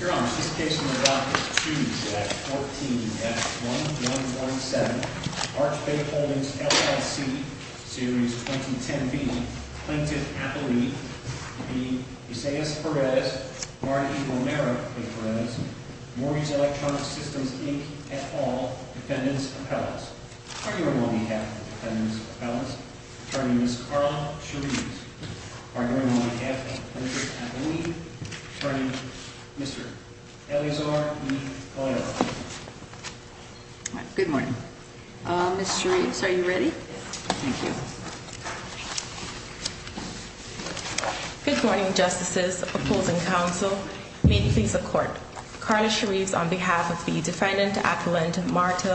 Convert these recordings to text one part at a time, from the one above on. Your Honors, this case will be adopted Tuesday at 14 F 1117, Arch Bay Holdings LLC, Series 2010B, Plaintiff Appellee, v. Isaias Perez, Marty Romero de Perez, Maury's Electronic Systems, Inc. et al. Defendants' Appellants. Arguing on behalf of the Defendants' Appellants, Attorney Ms. Carla Shereves. Arguing on behalf of the Plaintiff's Appellee, Attorney Mr. Eleazar Nicolero. Good morning. Ms. Shereves, are you ready? Yes. Thank you. Good morning, Justices, Opposing Counsel. May it please the Court. Carla Shereves on behalf of the Defendant Appellant, Marty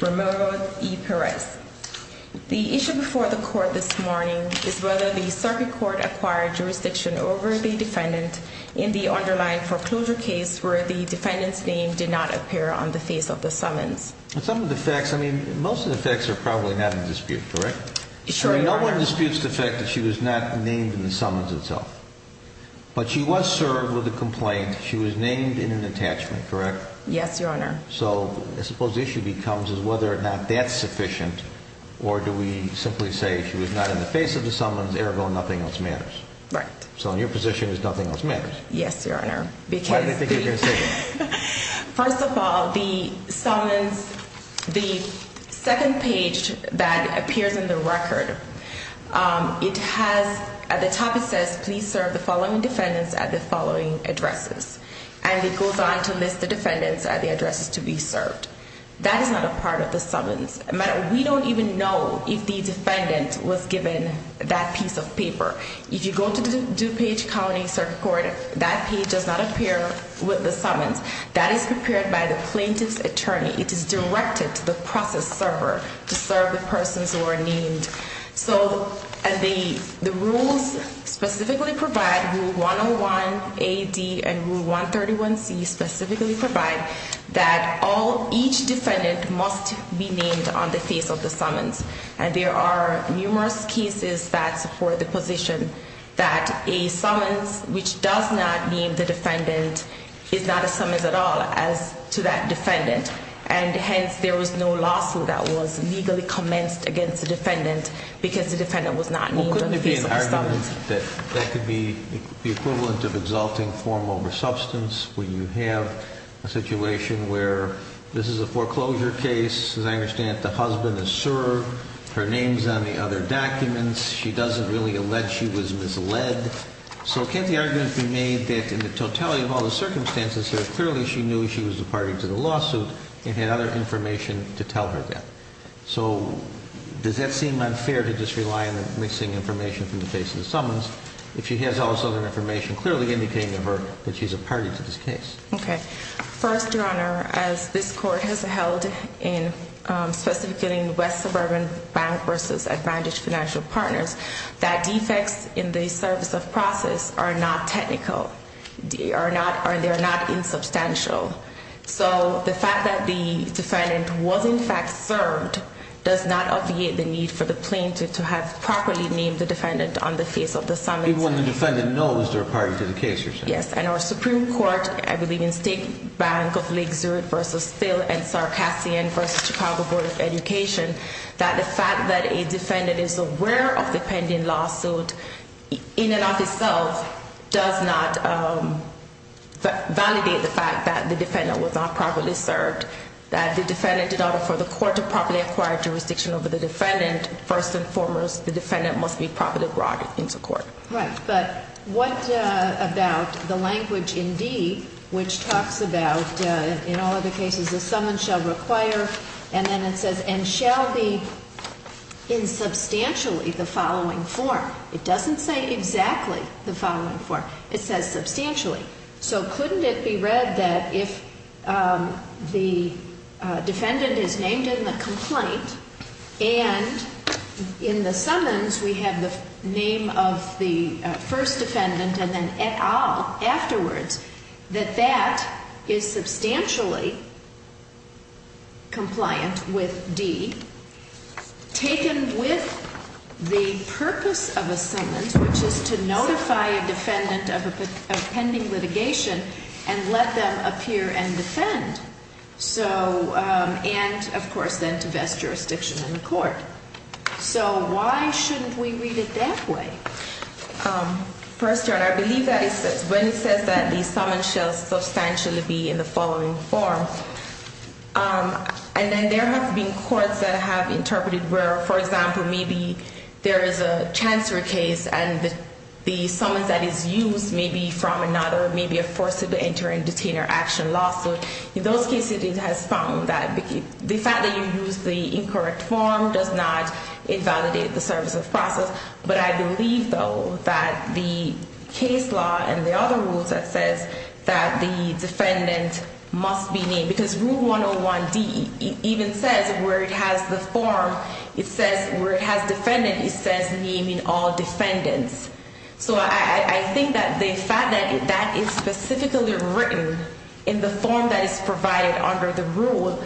Romero de Perez. The issue before the Court this morning is whether the Circuit Court acquired jurisdiction over the Defendant in the underlying foreclosure case where the Defendant's name did not appear on the face of the summons. Some of the facts, I mean, most of the facts are probably not in dispute, correct? Sure, Your Honor. I mean, no one disputes the fact that she was not named in the summons itself. But she was served with a complaint. She was named in an attachment, correct? Yes, Your Honor. So I suppose the issue becomes is whether or not that's sufficient, or do we simply say she was not in the face of the summons, ergo nothing else matters? Right. So in your position is nothing else matters? Yes, Your Honor. Why do they think you're going to say that? First of all, the summons, the second page that appears in the record, it has, at the top it says, please serve the following defendants at the following addresses. And it goes on to list the defendants at the addresses to be served. That is not a part of the summons. We don't even know if the defendant was given that piece of paper. If you go to DuPage County Circuit Court, that page does not appear with the summons. That is prepared by the plaintiff's attorney. It is directed to the process server to serve the persons who are named. So the rules specifically provide, Rule 101A-D and Rule 131C specifically provide that each defendant must be named on the face of the summons. And there are numerous cases that support the position that a summons which does not name the defendant is not a summons at all as to that defendant. And hence, there was no lawsuit that was legally commenced against the defendant because the defendant was not named on the face of the summons. Well, couldn't it be an argument that that could be the equivalent of exalting form over substance when you have a situation where this is a foreclosure case. As I understand it, the husband is served, her name's on the other documents. She doesn't really allege she was misled. So can't the argument be made that in the totality of all the circumstances here, clearly she knew she was a party to the lawsuit and had other information to tell her that? So does that seem unfair to just rely on the missing information from the face of the summons if she has all this other information clearly indicating to her that she's a party to this case? Okay. First, Your Honor, as this court has held specifically in West Suburban Bank versus Advantage Financial Partners, that defects in the service of process are not technical. They are not insubstantial. So the fact that the defendant was in fact served does not obviate the need for the plaintiff to have properly named the defendant on the face of the summons. Even when the defendant knows they're a party to the case, you're saying? Yes. And our Supreme Court, I believe in State Bank of Lake Zurich versus Steele and Sarcassian versus Chicago Board of Education, that the fact that a defendant is aware of the pending lawsuit in and of itself does not validate the fact that the defendant was not properly served, that the defendant did not afford the court to properly acquire jurisdiction over the defendant. First and foremost, the defendant must be properly brought into court. Right. But what about the language in D which talks about, in all other cases, the summons shall require, and then it says, and shall be in substantially the following form? It doesn't say exactly the following form. It says substantially. So couldn't it be read that if the defendant is named in the complaint and in the summons we have the name of the first defendant and then et al. First, Your Honor, I believe that it says, when it says that the summons shall substantially be in the following form, and then there have been courts that have interpreted where, for example, there is a transfer case and the summons that is used may be from another, may be a forcible enter and detainer action lawsuit. In those cases, it has found that the fact that you use the incorrect form does not invalidate the service of process. But I believe, though, that the case law and the other rules that says that the defendant must be named, because Rule 101D even says where it has the form, it says where it has defendant, it says name in all defendants. So I think that the fact that that is specifically written in the form that is provided under the rule,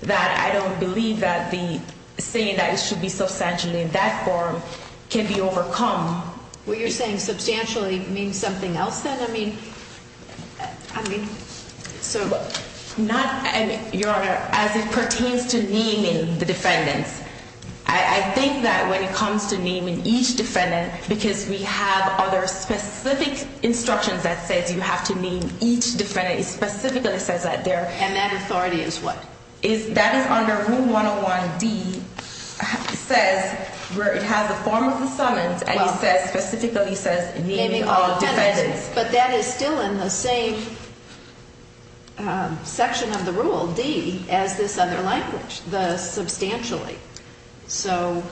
that I don't believe that the saying that it should be substantially in that form can be overcome. Well, you're saying substantially means something else, then? I mean, so... Your Honor, as it pertains to naming the defendants, I think that when it comes to naming each defendant, because we have other specific instructions that says you have to name each defendant, it specifically says that there... And that authority is what? That is under Rule 101D, says where it has the form of the summons, and it specifically says naming all defendants. But that is still in the same section of the rule, D, as this other language, the substantially. So...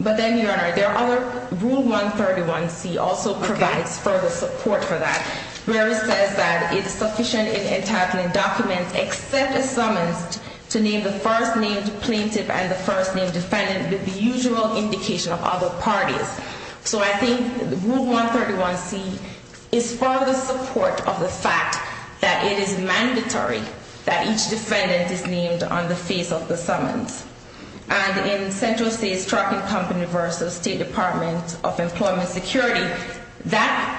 Your Honor, there are other... Rule 131C also provides further support for that, where it says that it's sufficient in entitling documents except a summons to name the first named plaintiff and the first named defendant with the usual indication of other parties. So I think Rule 131C is further support of the fact that it is mandatory that each defendant is named on the face of the summons. And in Central States Trucking Company v. State Department of Employment Security, that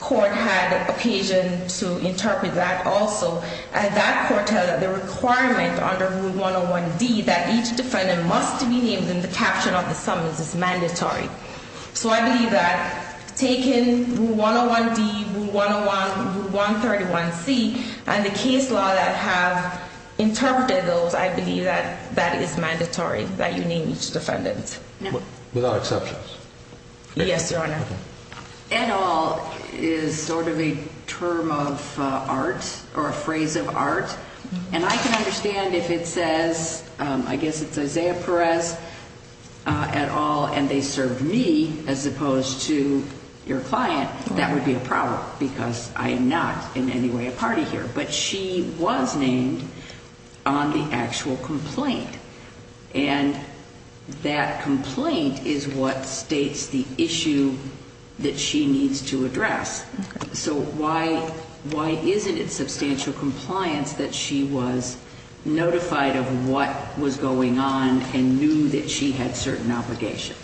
court had occasion to interpret that also. And that court held that the requirement under Rule 101D that each defendant must be named in the caption of the summons is mandatory. So I believe that taking Rule 101D, Rule 101, Rule 131C, and the case law that have interpreted those, I believe that that is mandatory, that you name each defendant. Without exceptions? Yes, Your Honor. At all is sort of a term of art or a phrase of art. And I can understand if it says, I guess it's Isaiah Perez, at all, and they served me as opposed to your client. That would be a problem because I am not in any way a party here. But she was named on the actual complaint. And that complaint is what states the issue that she needs to address. So why isn't it substantial compliance that she was notified of what was going on and knew that she had certain obligations?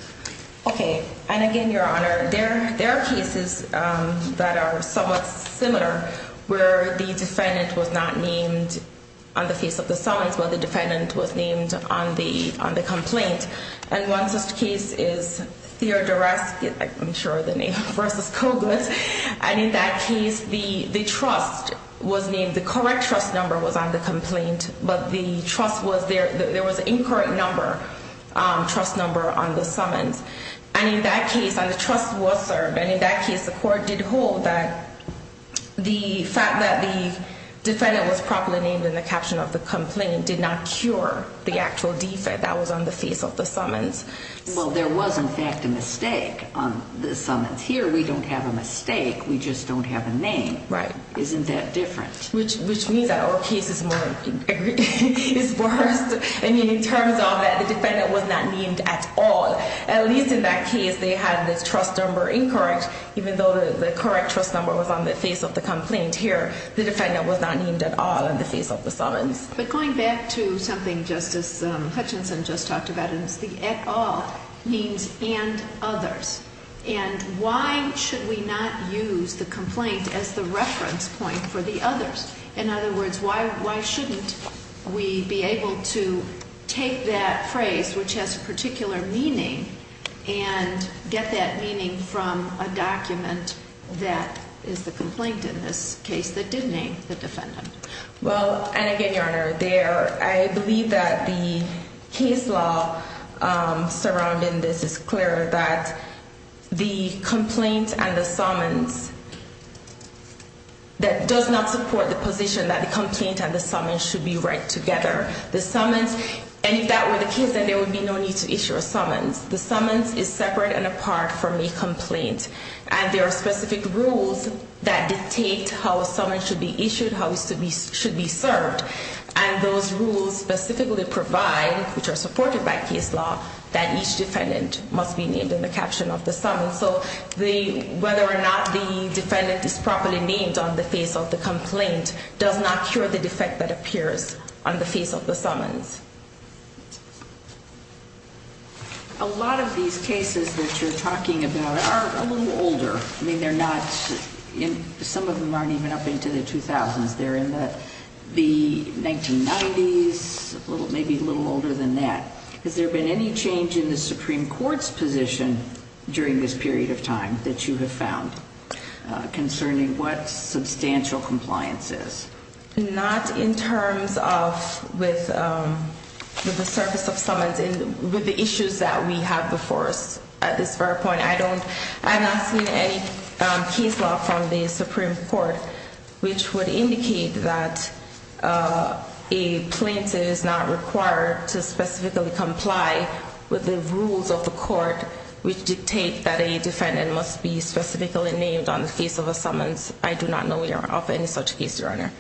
Okay. And again, Your Honor, there are cases that are somewhat similar where the defendant was not named on the face of the summons, but the defendant was named on the complaint. And one such case is Theodore Raskin, I'm sure the name, versus Kogut. And in that case, the trust was named. The correct trust number was on the complaint, but the trust was there. There was an incorrect number, trust number on the summons. And in that case, the trust was served. And in that case, the court did hold that the fact that the defendant was properly named in the caption of the complaint did not cure the actual defect that was on the face of the summons. Well, there was, in fact, a mistake on the summons. Here, we don't have a mistake. We just don't have a name. Right. Isn't that different? Which means that our case is worse, I mean, in terms of that the defendant was not named at all. At least in that case, they had the trust number incorrect, even though the correct trust number was on the face of the complaint. But going back to something Justice Hutchinson just talked about, it's the at all means and others. And why should we not use the complaint as the reference point for the others? In other words, why shouldn't we be able to take that phrase, which has a particular meaning, and get that meaning from a document that is the complaint in this case that did name the defendant? Well, and again, Your Honor, I believe that the case law surrounding this is clear that the complaint and the summons, that does not support the position that the complaint and the summons should be read together. The summons, and if that were the case, then there would be no need to issue a summons. The summons is separate and apart from the complaint. And there are specific rules that dictate how a summons should be issued, how it should be served. And those rules specifically provide, which are supported by case law, that each defendant must be named in the caption of the summons. So whether or not the defendant is properly named on the face of the complaint does not cure the defect that appears on the face of the summons. A lot of these cases that you're talking about are a little older. I mean, they're not, some of them aren't even up into the 2000s. They're in the 1990s, maybe a little older than that. Has there been any change in the Supreme Court's position during this period of time that you have found concerning what substantial compliance is? Not in terms of with the service of summons and with the issues that we have before us at this very point. I don't, I'm not seeing any case law from the Supreme Court which would indicate that a plaintiff is not required to specifically comply with the rules of the court, which dictate that a defendant must be specifically named on the face of a summons. I do not know of any such case, Your Honor.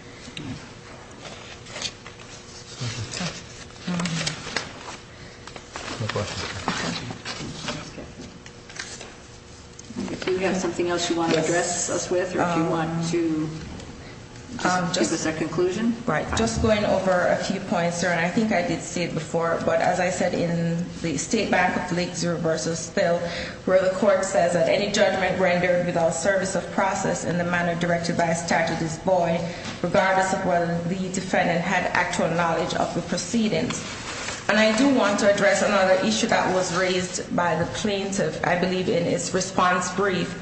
If you have something else you want to address us with, or if you want to give us a conclusion. Just going over a few points, Your Honor, I think I did say it before. But as I said in the State Bank of Lake Zero versus Spill, where the court says that any judgment rendered without service of process in the manner directed by a statute is void, regardless of whether the defendant had actual knowledge of the proceedings. And I do want to address another issue that was raised by the plaintiff, I believe, in his response brief.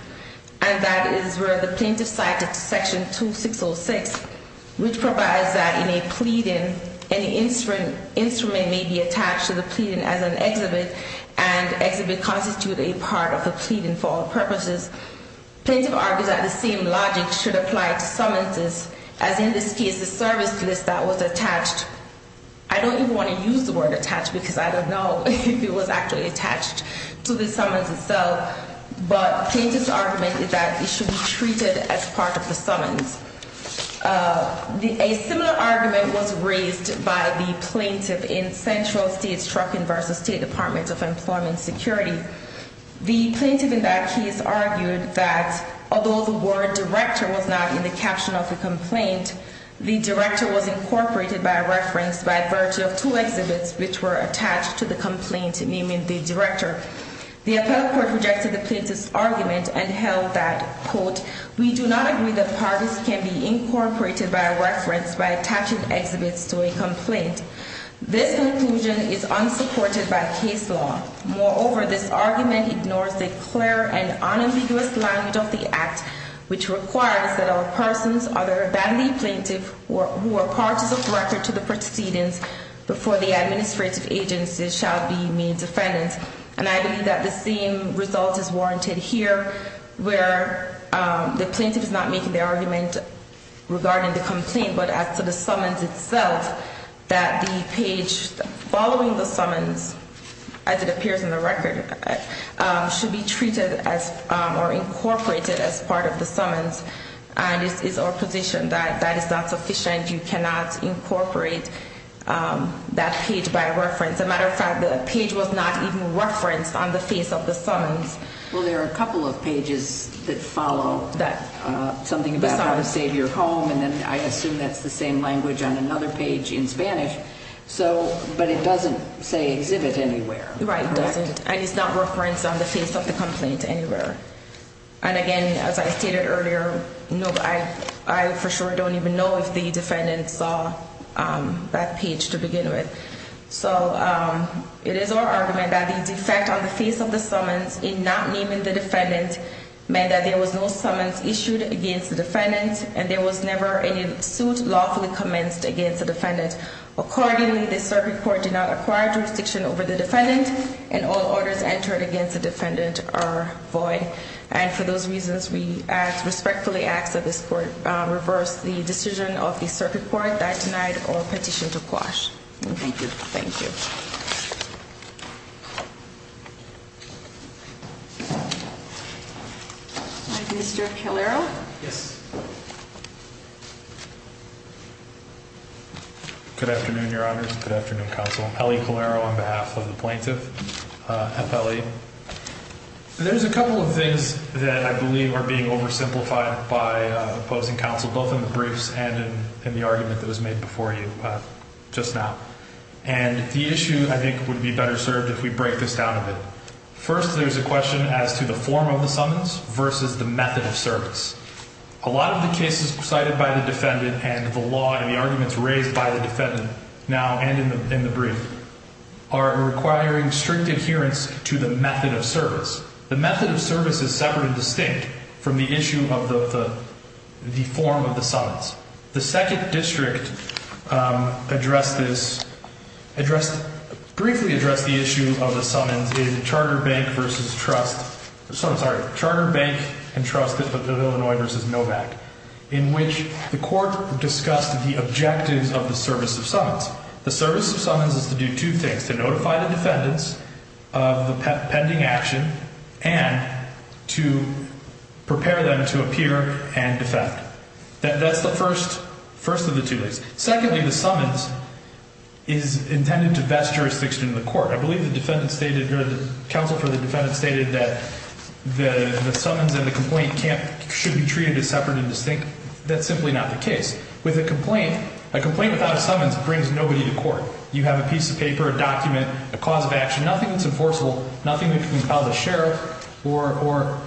And that is where the plaintiff cited section 2606, which provides that in a pleading, any instrument may be attached to the pleading as an exhibit, and exhibit constitute a part of a pleading for all purposes. Plaintiff argues that the same logic should apply to summonses, as in this case, the service list that was attached. I don't even want to use the word attached because I don't know if it was actually attached to the summons itself. But plaintiff's argument is that it should be treated as part of the summons. A similar argument was raised by the plaintiff in Central States Trucking versus State Department of Employment Security. The plaintiff in that case argued that although the word director was not in the caption of the complaint, the director was incorporated by reference by virtue of two exhibits which were attached to the complaint naming the director. The appellate court rejected the plaintiff's argument and held that, quote, we do not agree that parties can be incorporated by reference by attaching exhibits to a complaint. This conclusion is unsupported by case law. Moreover, this argument ignores the clear and unambiguous language of the act, which requires that all persons other than the plaintiff who are parties of record to the proceedings before the administrative agency shall be made defendants. And I believe that the same result is warranted here where the plaintiff is not making the argument regarding the complaint but as to the summons itself, that the page following the summons, as it appears in the record, should be treated as or incorporated as part of the summons. And it's our position that that is not sufficient. You cannot incorporate that page by reference. As a matter of fact, the page was not even referenced on the face of the summons. Well, there are a couple of pages that follow something about how to save your home. And then I assume that's the same language on another page in Spanish. But it doesn't say exhibit anywhere. Right, it doesn't. And it's not referenced on the face of the complaint anywhere. And again, as I stated earlier, I for sure don't even know if the defendant saw that page to begin with. So it is our argument that the defect on the face of the summons in not naming the defendant meant that there was no summons issued against the defendant. And there was never any suit lawfully commenced against the defendant. Accordingly, the circuit court did not acquire jurisdiction over the defendant. And all orders entered against the defendant are void. And for those reasons, we respectfully ask that this court reverse the decision of the circuit court that tonight or petition to quash. Thank you. Thank you. Mr. Calero. Yes. Good afternoon, Your Honors. Good afternoon, Counsel. Ellie Calero on behalf of the plaintiff. There's a couple of things that I believe are being oversimplified by opposing counsel, both in the briefs and in the argument that was made before you just now. And the issue, I think, would be better served if we break this down a bit. First, there's a question as to the form of the summons versus the method of service. A lot of the cases cited by the defendant and the law and the arguments raised by the defendant now and in the brief are requiring strict adherence to the method of service. The method of service is separate and distinct from the issue of the form of the summons. The second district briefly addressed the issue of the summons in Charter Bank and Trust Illinois v. Novak, in which the court discussed the objectives of the service of summons. The service of summons is to do two things, to notify the defendants of the pending action and to prepare them to appear and defend. That's the first of the two things. Secondly, the summons is intended to vest jurisdiction in the court. I believe the counsel for the defendant stated that the summons and the complaint should be treated as separate and distinct. That's simply not the case. With a complaint, a complaint without a summons brings nobody to court. You have a piece of paper, a document, a cause of action, nothing that's enforceable, nothing that can compel the sheriff or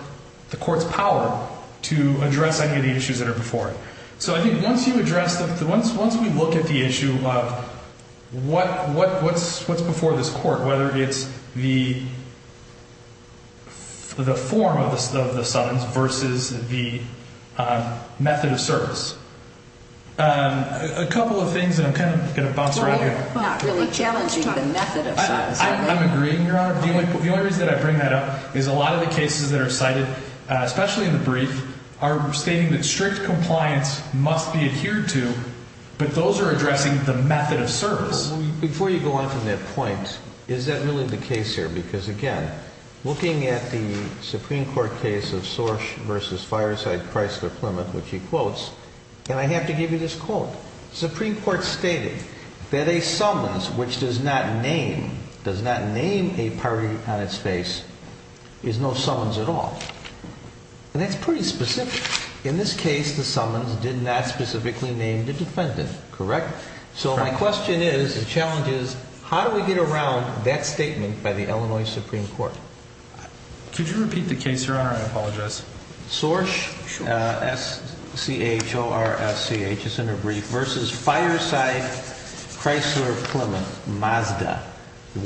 the court's power to address any of the issues that are before it. So I think once you address the – once we look at the issue of what's before this court, whether it's the form of the summons versus the method of service, a couple of things that I'm kind of going to bounce around here. I'm not really challenging the method of summons. I'm agreeing, Your Honor. The only reason that I bring that up is a lot of the cases that are cited, especially in the brief, are stating that strict compliance must be adhered to, but those are addressing the method of service. Before you go on from that point, is that really the case here? Because, again, looking at the Supreme Court case of Sorsch v. Fireside-Chrysler-Plymouth, which he quotes, and I have to give you this quote. The Supreme Court stated that a summons which does not name – does not name a party on its face is no summons at all. And that's pretty specific. In this case, the summons did not specifically name the defendant. Correct? Correct. So my question is, the challenge is, how do we get around that statement by the Illinois Supreme Court? Could you repeat the case, Your Honor? I apologize. Sorsch, S-C-H-O-R-S-C-H, it's in the brief, versus Fireside-Chrysler-Plymouth, Mazda, 172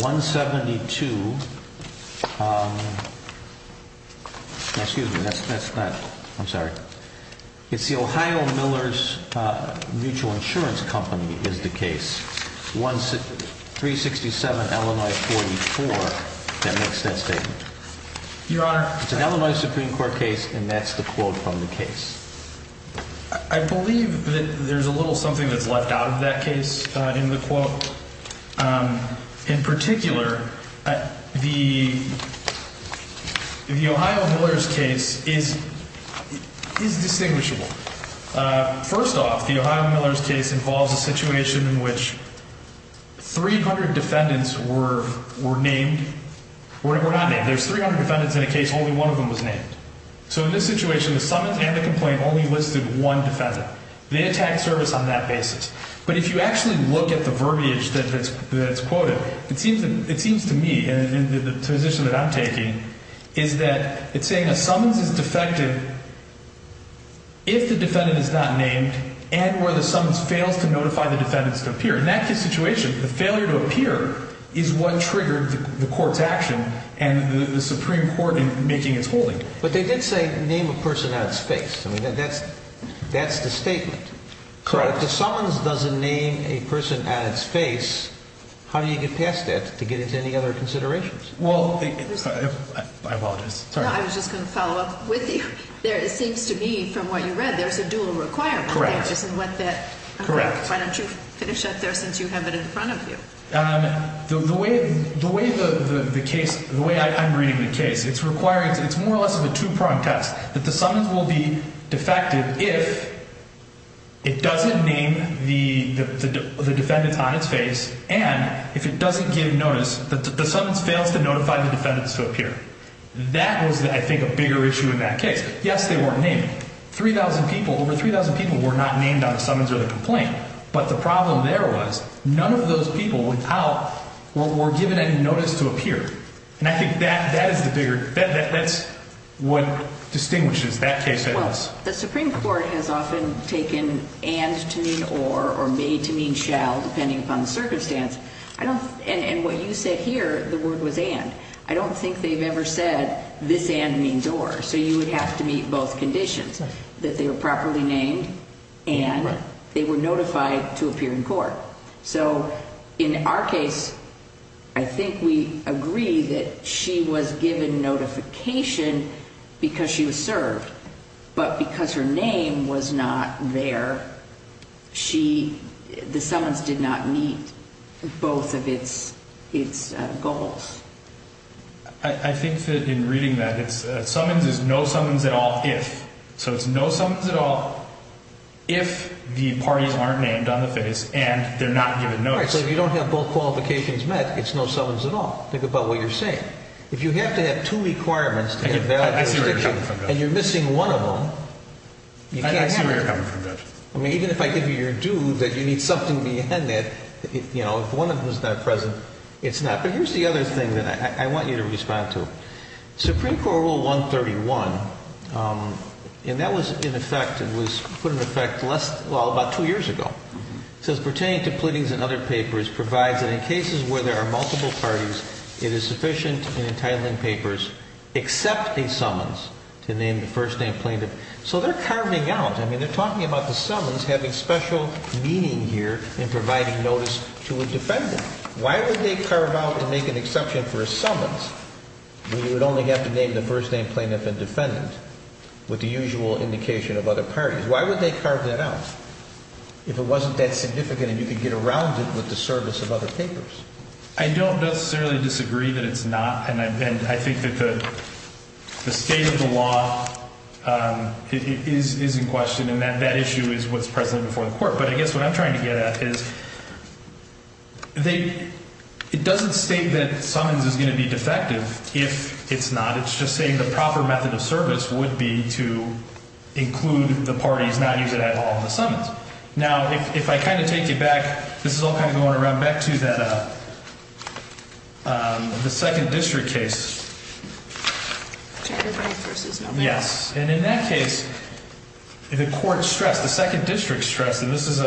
– excuse me, that's not – I'm sorry. It's the Ohio Millers Mutual Insurance Company is the case, 367 Illinois 44 that makes that statement. Your Honor – It's an Illinois Supreme Court case, and that's the quote from the case. I believe that there's a little something that's left out of that case in the quote. In particular, the Ohio Millers case is distinguishable. First off, the Ohio Millers case involves a situation in which 300 defendants were named – were not named. There's 300 defendants in a case, only one of them was named. So in this situation, the summons and the complaint only listed one defendant. They attacked service on that basis. But if you actually look at the verbiage that's quoted, it seems to me, and the position that I'm taking, is that it's saying a summons is defective if the defendant is not named and where the summons fails to notify the defendants to appear. In that situation, the failure to appear is what triggered the court's action and the Supreme Court in making its holding. But they did say name a person on its face. I mean, that's the statement. Correct. If the summons doesn't name a person at its face, how do you get past that to get into any other considerations? Well, I apologize. Sorry. No, I was just going to follow up with you. It seems to me, from what you read, there's a dual requirement there. Correct. Why don't you finish up there since you have it in front of you? The way the case – the way I'm reading the case, it's more or less of a two-prong test. That the summons will be defective if it doesn't name the defendant on its face and if it doesn't give notice – the summons fails to notify the defendants to appear. That was, I think, a bigger issue in that case. Yes, they weren't named. 3,000 people – over 3,000 people were not named on the summons or the complaint. But the problem there was none of those people without – were given any notice to appear. And I think that is the bigger – that's what distinguishes that case. Well, the Supreme Court has often taken and to mean or or may to mean shall, depending upon the circumstance. I don't – and what you said here, the word was and. I don't think they've ever said this and means or. So you would have to meet both conditions, that they were properly named and they were notified to appear in court. So in our case, I think we agree that she was given notification because she was served. But because her name was not there, she – the summons did not meet both of its goals. I think that in reading that, it's – summons is no summons at all if. So it's no summons at all if the parties aren't named on the face and they're not given notice. All right. So if you don't have both qualifications met, it's no summons at all. Think about what you're saying. If you have to have two requirements to invalidate a conviction. I see where you're coming from, Judge. And you're missing one of them, you can't have it. I see where you're coming from, Judge. I mean, even if I give you your due that you need something beyond that, you know, if one of them is not present, it's not. But here's the other thing that I want you to respond to. Supreme Court Rule 131, and that was in effect and was put in effect less – well, about two years ago. It says pertaining to pleadings and other papers provides that in cases where there are multiple parties, it is sufficient in entitling papers except a summons to name the first name plaintiff. So they're carving out – I mean, they're talking about the summons having special meaning here in providing notice to a defendant. Why would they carve out to make an exception for a summons when you would only have to name the first name plaintiff and defendant with the usual indication of other parties? Why would they carve that out if it wasn't that significant and you could get around it with the service of other papers? I don't necessarily disagree that it's not. And I think that the state of the law is in question and that issue is what's present before the court. But I guess what I'm trying to get at is they – it doesn't state that summons is going to be defective if it's not. It's just saying the proper method of service would be to include the parties, not use it at all in the summons. Now, if I kind of take you back, this is all kind of going around back to that – the second district case. Yes. And in that case, the court stressed, the second district stressed, and this is in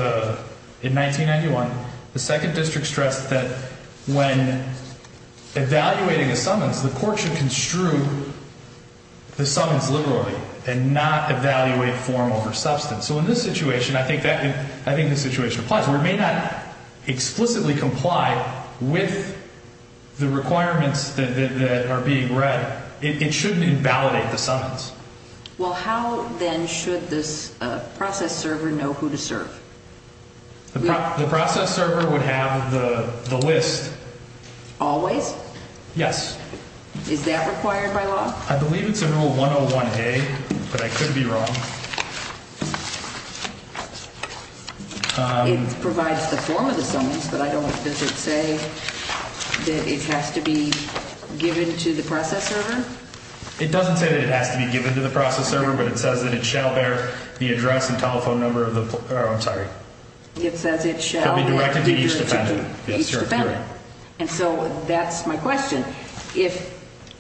1991, the second district stressed that when evaluating a summons, the court should construe the summons liberally and not evaluate form over substance. So in this situation, I think that – I think the situation applies. Where it may not explicitly comply with the requirements that are being read, it shouldn't invalidate the summons. Well, how then should the process server know who to serve? The process server would have the list. Always? Yes. Is that required by law? I believe it's in Rule 101A, but I could be wrong. It provides the form of the summons, but I don't – does it say that it has to be given to the process server? It doesn't say that it has to be given to the process server, but it says that it shall bear the address and telephone number of the – oh, I'm sorry. It says it shall – It should be directed to each defendant. And so that's my question. If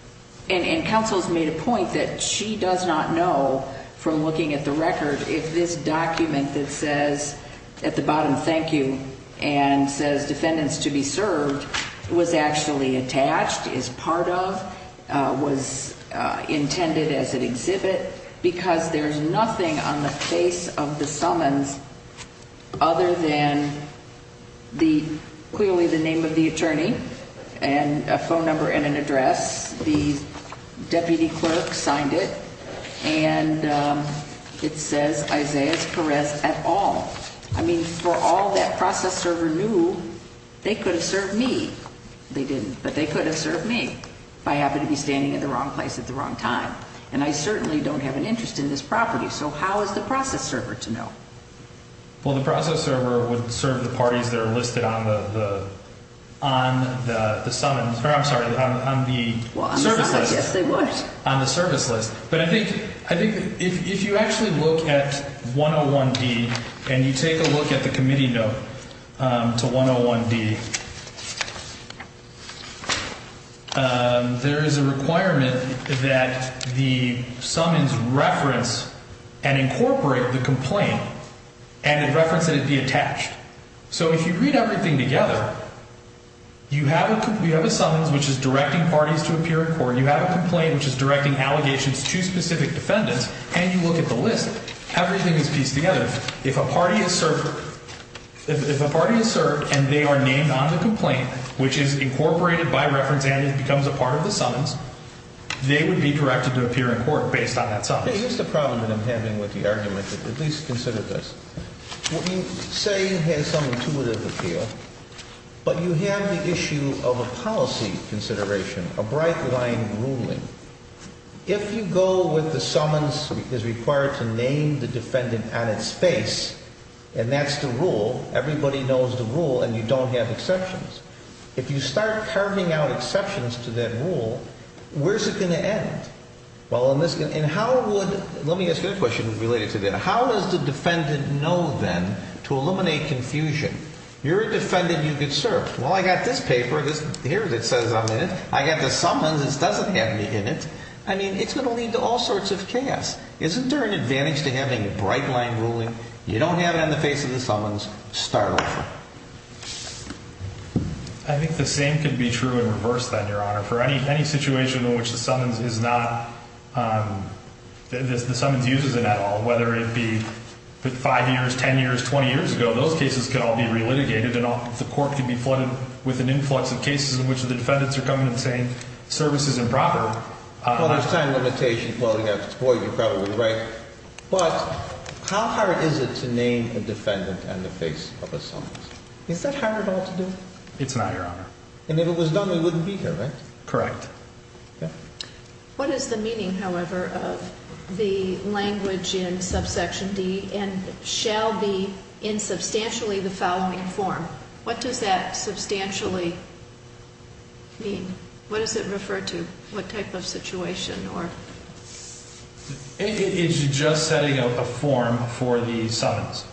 – and counsel's made a point that she does not know from looking at the record if this document that says at the bottom thank you and says defendants to be served was actually attached, is part of, was intended as an exhibit, because there's nothing on the face of the summons other than the – clearly the name of the attorney and a phone number and an address. The deputy clerk signed it, and it says Isaias Perez et al. I mean, for all that process server knew, they could have served me. They didn't, but they could have served me if I happened to be standing at the wrong place at the wrong time. And I certainly don't have an interest in this property. So how is the process server to know? Well, the process server would serve the parties that are listed on the summons – or I'm sorry, on the service list. Yes, they would. On the service list. But I think – I think if you actually look at 101D and you take a look at the committee note to 101D, there is a requirement that the summons reference and incorporate the complaint and a reference that it be attached. So if you read everything together, you have a – you have a summons, which is directing parties to appear in court. You have a complaint, which is directing allegations to specific defendants. And you look at the list. Everything is pieced together. If a party is served – if a party is served and they are named on the complaint, which is incorporated by reference and becomes a part of the summons, they would be directed to appear in court based on that summons. Here's the problem that I'm having with the argument, but at least consider this. What you say has some intuitive appeal, but you have the issue of a policy consideration, a bright-line ruling. If you go with the summons is required to name the defendant on its face, and that's the rule, everybody knows the rule, and you don't have exceptions. If you start carving out exceptions to that rule, where's it going to end? Well, in this – and how would – let me ask you a question related to that. How does the defendant know, then, to eliminate confusion? You're a defendant. You get served. Well, I got this paper. Here it says I'm in it. I got the summons. This doesn't have me in it. I mean, it's going to lead to all sorts of chaos. Isn't there an advantage to having a bright-line ruling? You don't have it on the face of the summons. Start over. I think the same could be true in reverse, then, Your Honor. For any situation in which the summons is not – the summons uses it at all, whether it be 5 years, 10 years, 20 years ago, those cases could all be re-litigated, and the court could be flooded with an influx of cases in which the defendants are coming and saying service is improper. Well, there's time limitations. Boy, you're probably right. But how hard is it to name a defendant on the face of a summons? Is that hard at all to do? It's not, Your Honor. And if it was done, we wouldn't be here, right? Correct. Okay. What is the meaning, however, of the language in subsection D, and shall be in substantially the following form? What does that substantially mean? What does it refer to? What type of situation? It's just setting up a form for the summons.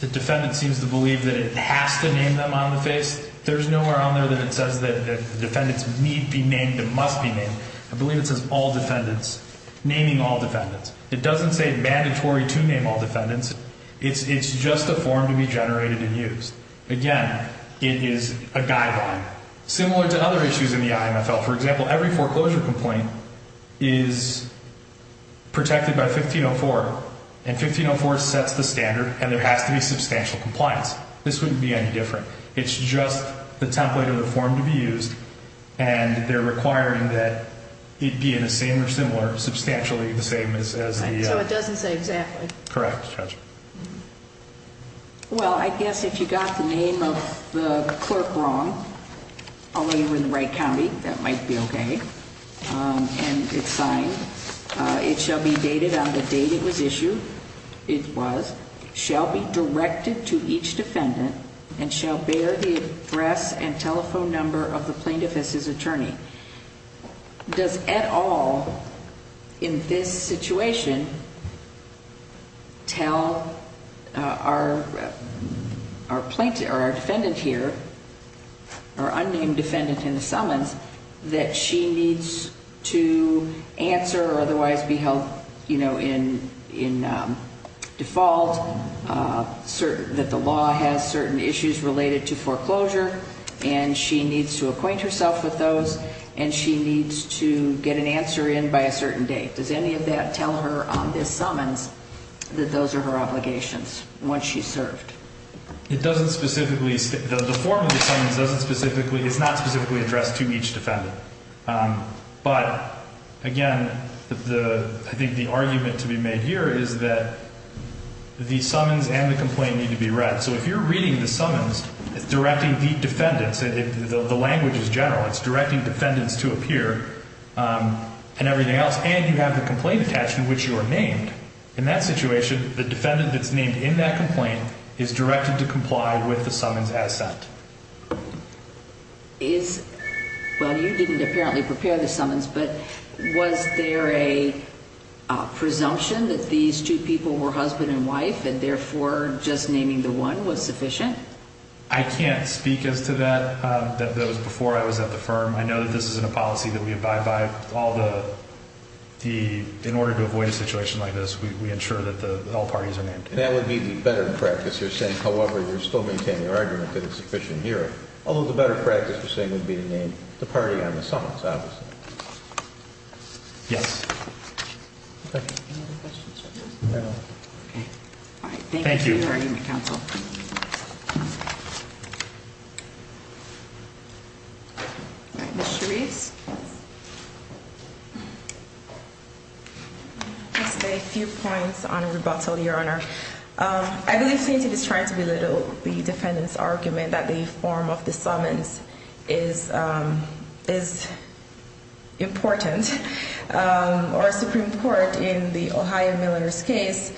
The defendant seems to believe that it has to name them on the face. There's nowhere on there that it says that the defendants need be named and must be named. I believe it says all defendants, naming all defendants. It doesn't say mandatory to name all defendants. It's just a form to be generated and used. Again, it is a guideline. Similar to other issues in the IMFL. For example, every foreclosure complaint is protected by 1504. And 1504 sets the standard, and there has to be substantial compliance. This wouldn't be any different. It's just the template of the form to be used, and they're requiring that it be in a same or similar, substantially the same as the other. So it doesn't say exactly. Correct, Judge. Well, I guess if you got the name of the clerk wrong, although you're in the right county, that might be okay. And it's fine. It shall be dated on the date it was issued. It was. Shall be directed to each defendant and shall bear the address and telephone number of the plaintiff as his attorney. Does, at all, in this situation, tell our defendant here, our unnamed defendant in the summons, that she needs to answer or otherwise be held in default, that the law has certain issues related to foreclosure, and she needs to acquaint herself with those, and she needs to get an answer in by a certain date. Does any of that tell her on this summons that those are her obligations once she's served? It doesn't specifically. The form of the summons doesn't specifically. It's not specifically addressed to each defendant. But, again, I think the argument to be made here is that the summons and the complaint need to be read. So if you're reading the summons, it's directing the defendants. The language is general. It's directing defendants to appear and everything else, and you have the complaint attached in which you are named. In that situation, the defendant that's named in that complaint is directed to comply with the summons as sent. Well, you didn't apparently prepare the summons, but was there a presumption that these two people were husband and wife and, therefore, just naming the one was sufficient? I can't speak as to that. That was before I was at the firm. I know that this isn't a policy that we abide by. In order to avoid a situation like this, we ensure that all parties are named. That would be the better practice, you're saying. However, you're still maintaining your argument that it's sufficient here. Although, the better practice, you're saying, would be to name the party on the summons, obviously. Yes. Thank you. Any other questions for this? No. Okay. All right. Thank you. Thank you for your hearing, counsel. All right. Ms. Chavez. Just a few points on rebuttal, Your Honor. I believe Stanton is trying to belittle the defendant's argument that the form of the summons is important. Our Supreme Court, in the Ohio Miller's case,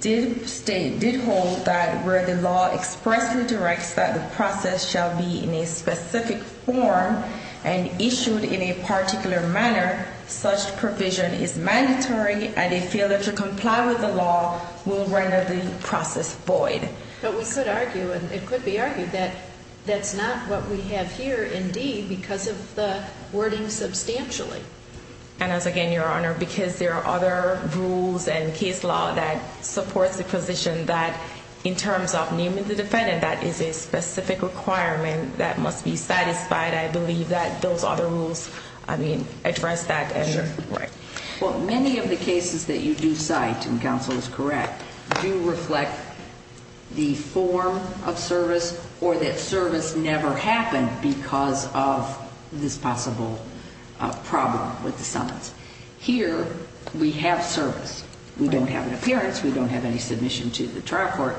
did state, did hold that where the law expressly directs that the process shall be in a specific form and issued in a particular manner, such provision is mandatory and a failure to comply with the law will render the process void. But we could argue, and it could be argued, that that's not what we have here, indeed, because of the wording substantially. And as, again, Your Honor, because there are other rules and case law that supports the position that, in terms of naming the defendant, that is a specific requirement that must be satisfied. I believe that those other rules, I mean, address that. Sure. Right. Well, many of the cases that you do cite, and counsel is correct, do reflect the form of service or that service never happened because of this possible problem with the summons. Here, we have service. We don't have an appearance. We don't have any submission to the trial court.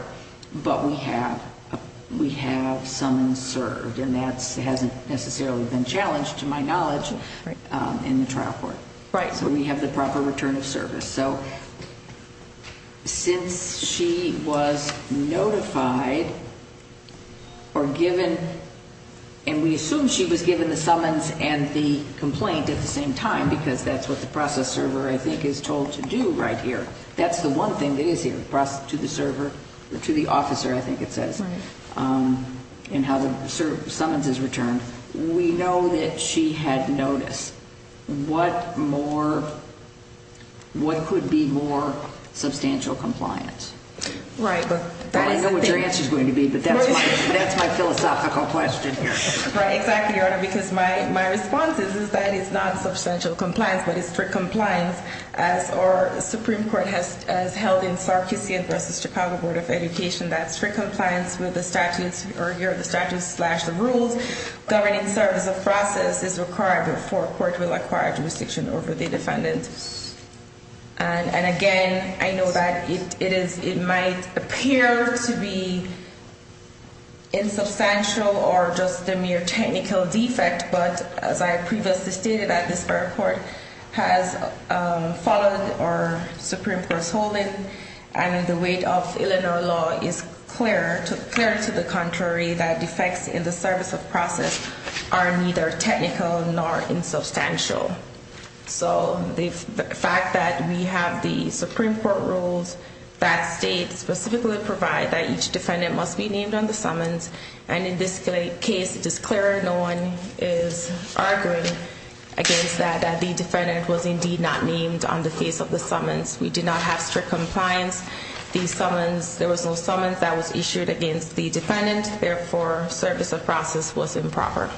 But we have summons served. And that hasn't necessarily been challenged, to my knowledge, in the trial court. Right. So we have the proper return of service. So since she was notified or given, and we assume she was given the summons and the complaint at the same time because that's what the process server, I think, is told to do right here. That's the one thing that is here, to the server, to the officer, I think it says. Right. And how the summons is returned. We know that she had notice. What could be more substantial compliance? Right. I know what your answer is going to be, but that's my philosophical question here. Right. Exactly, Your Honor. Because my response is that it's not substantial compliance, but it's strict compliance, as our Supreme Court has held in Sarkissian v. Chicago Board of Education. That's for compliance with the statutes, or here are the statutes slash the rules. Governing service of process is required before court will acquire jurisdiction over the defendant. And again, I know that it might appear to be insubstantial or just a mere technical defect, but as I previously stated at this fair court, has followed our Supreme Court's holding, and the weight of Illinois law is clear to the contrary that defects in the service of process are neither technical nor insubstantial. So the fact that we have the Supreme Court rules that state specifically provide that each defendant must be named on the summons, and in this case it is clear no one is arguing against that, that the defendant was indeed not named on the face of the summons. We do not have strict compliance. The summons, there was no summons that was issued against the defendant. Therefore, service of process was improper.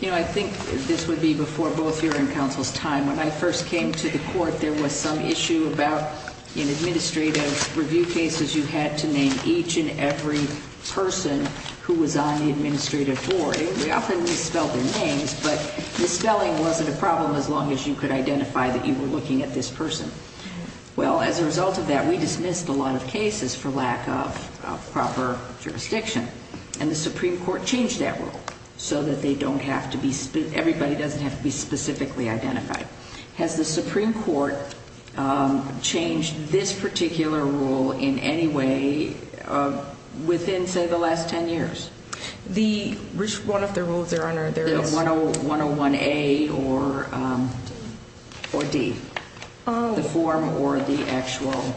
You know, I think this would be before both your and counsel's time. When I first came to the court, there was some issue about in administrative review cases, you had to name each and every person who was on the administrative board. We often misspelled their names, but misspelling wasn't a problem as long as you could identify that you were looking at this person. Well, as a result of that, we dismissed a lot of cases for lack of proper jurisdiction. And the Supreme Court changed that rule so that they don't have to be, everybody doesn't have to be specifically identified. Has the Supreme Court changed this particular rule in any way within, say, the last 10 years? The, which one of the rules, Your Honor, there is? 101A or D. Oh. The form or the actual.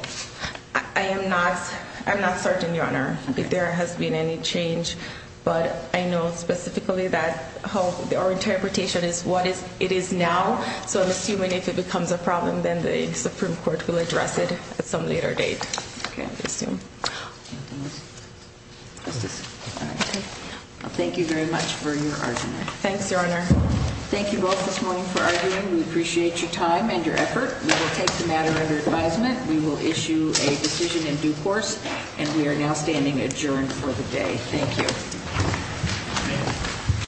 I am not, I'm not certain, Your Honor, that there has been any change. But I know specifically that how our interpretation is what it is now. So I'm assuming if it becomes a problem, then the Supreme Court will address it at some later date. Okay. Thank you very much for your argument. Thanks, Your Honor. Thank you both this morning for arguing. We appreciate your time and your effort. We will take the matter under advisement. We will issue a decision in due course. And we are now standing adjourned for the day. Thank you.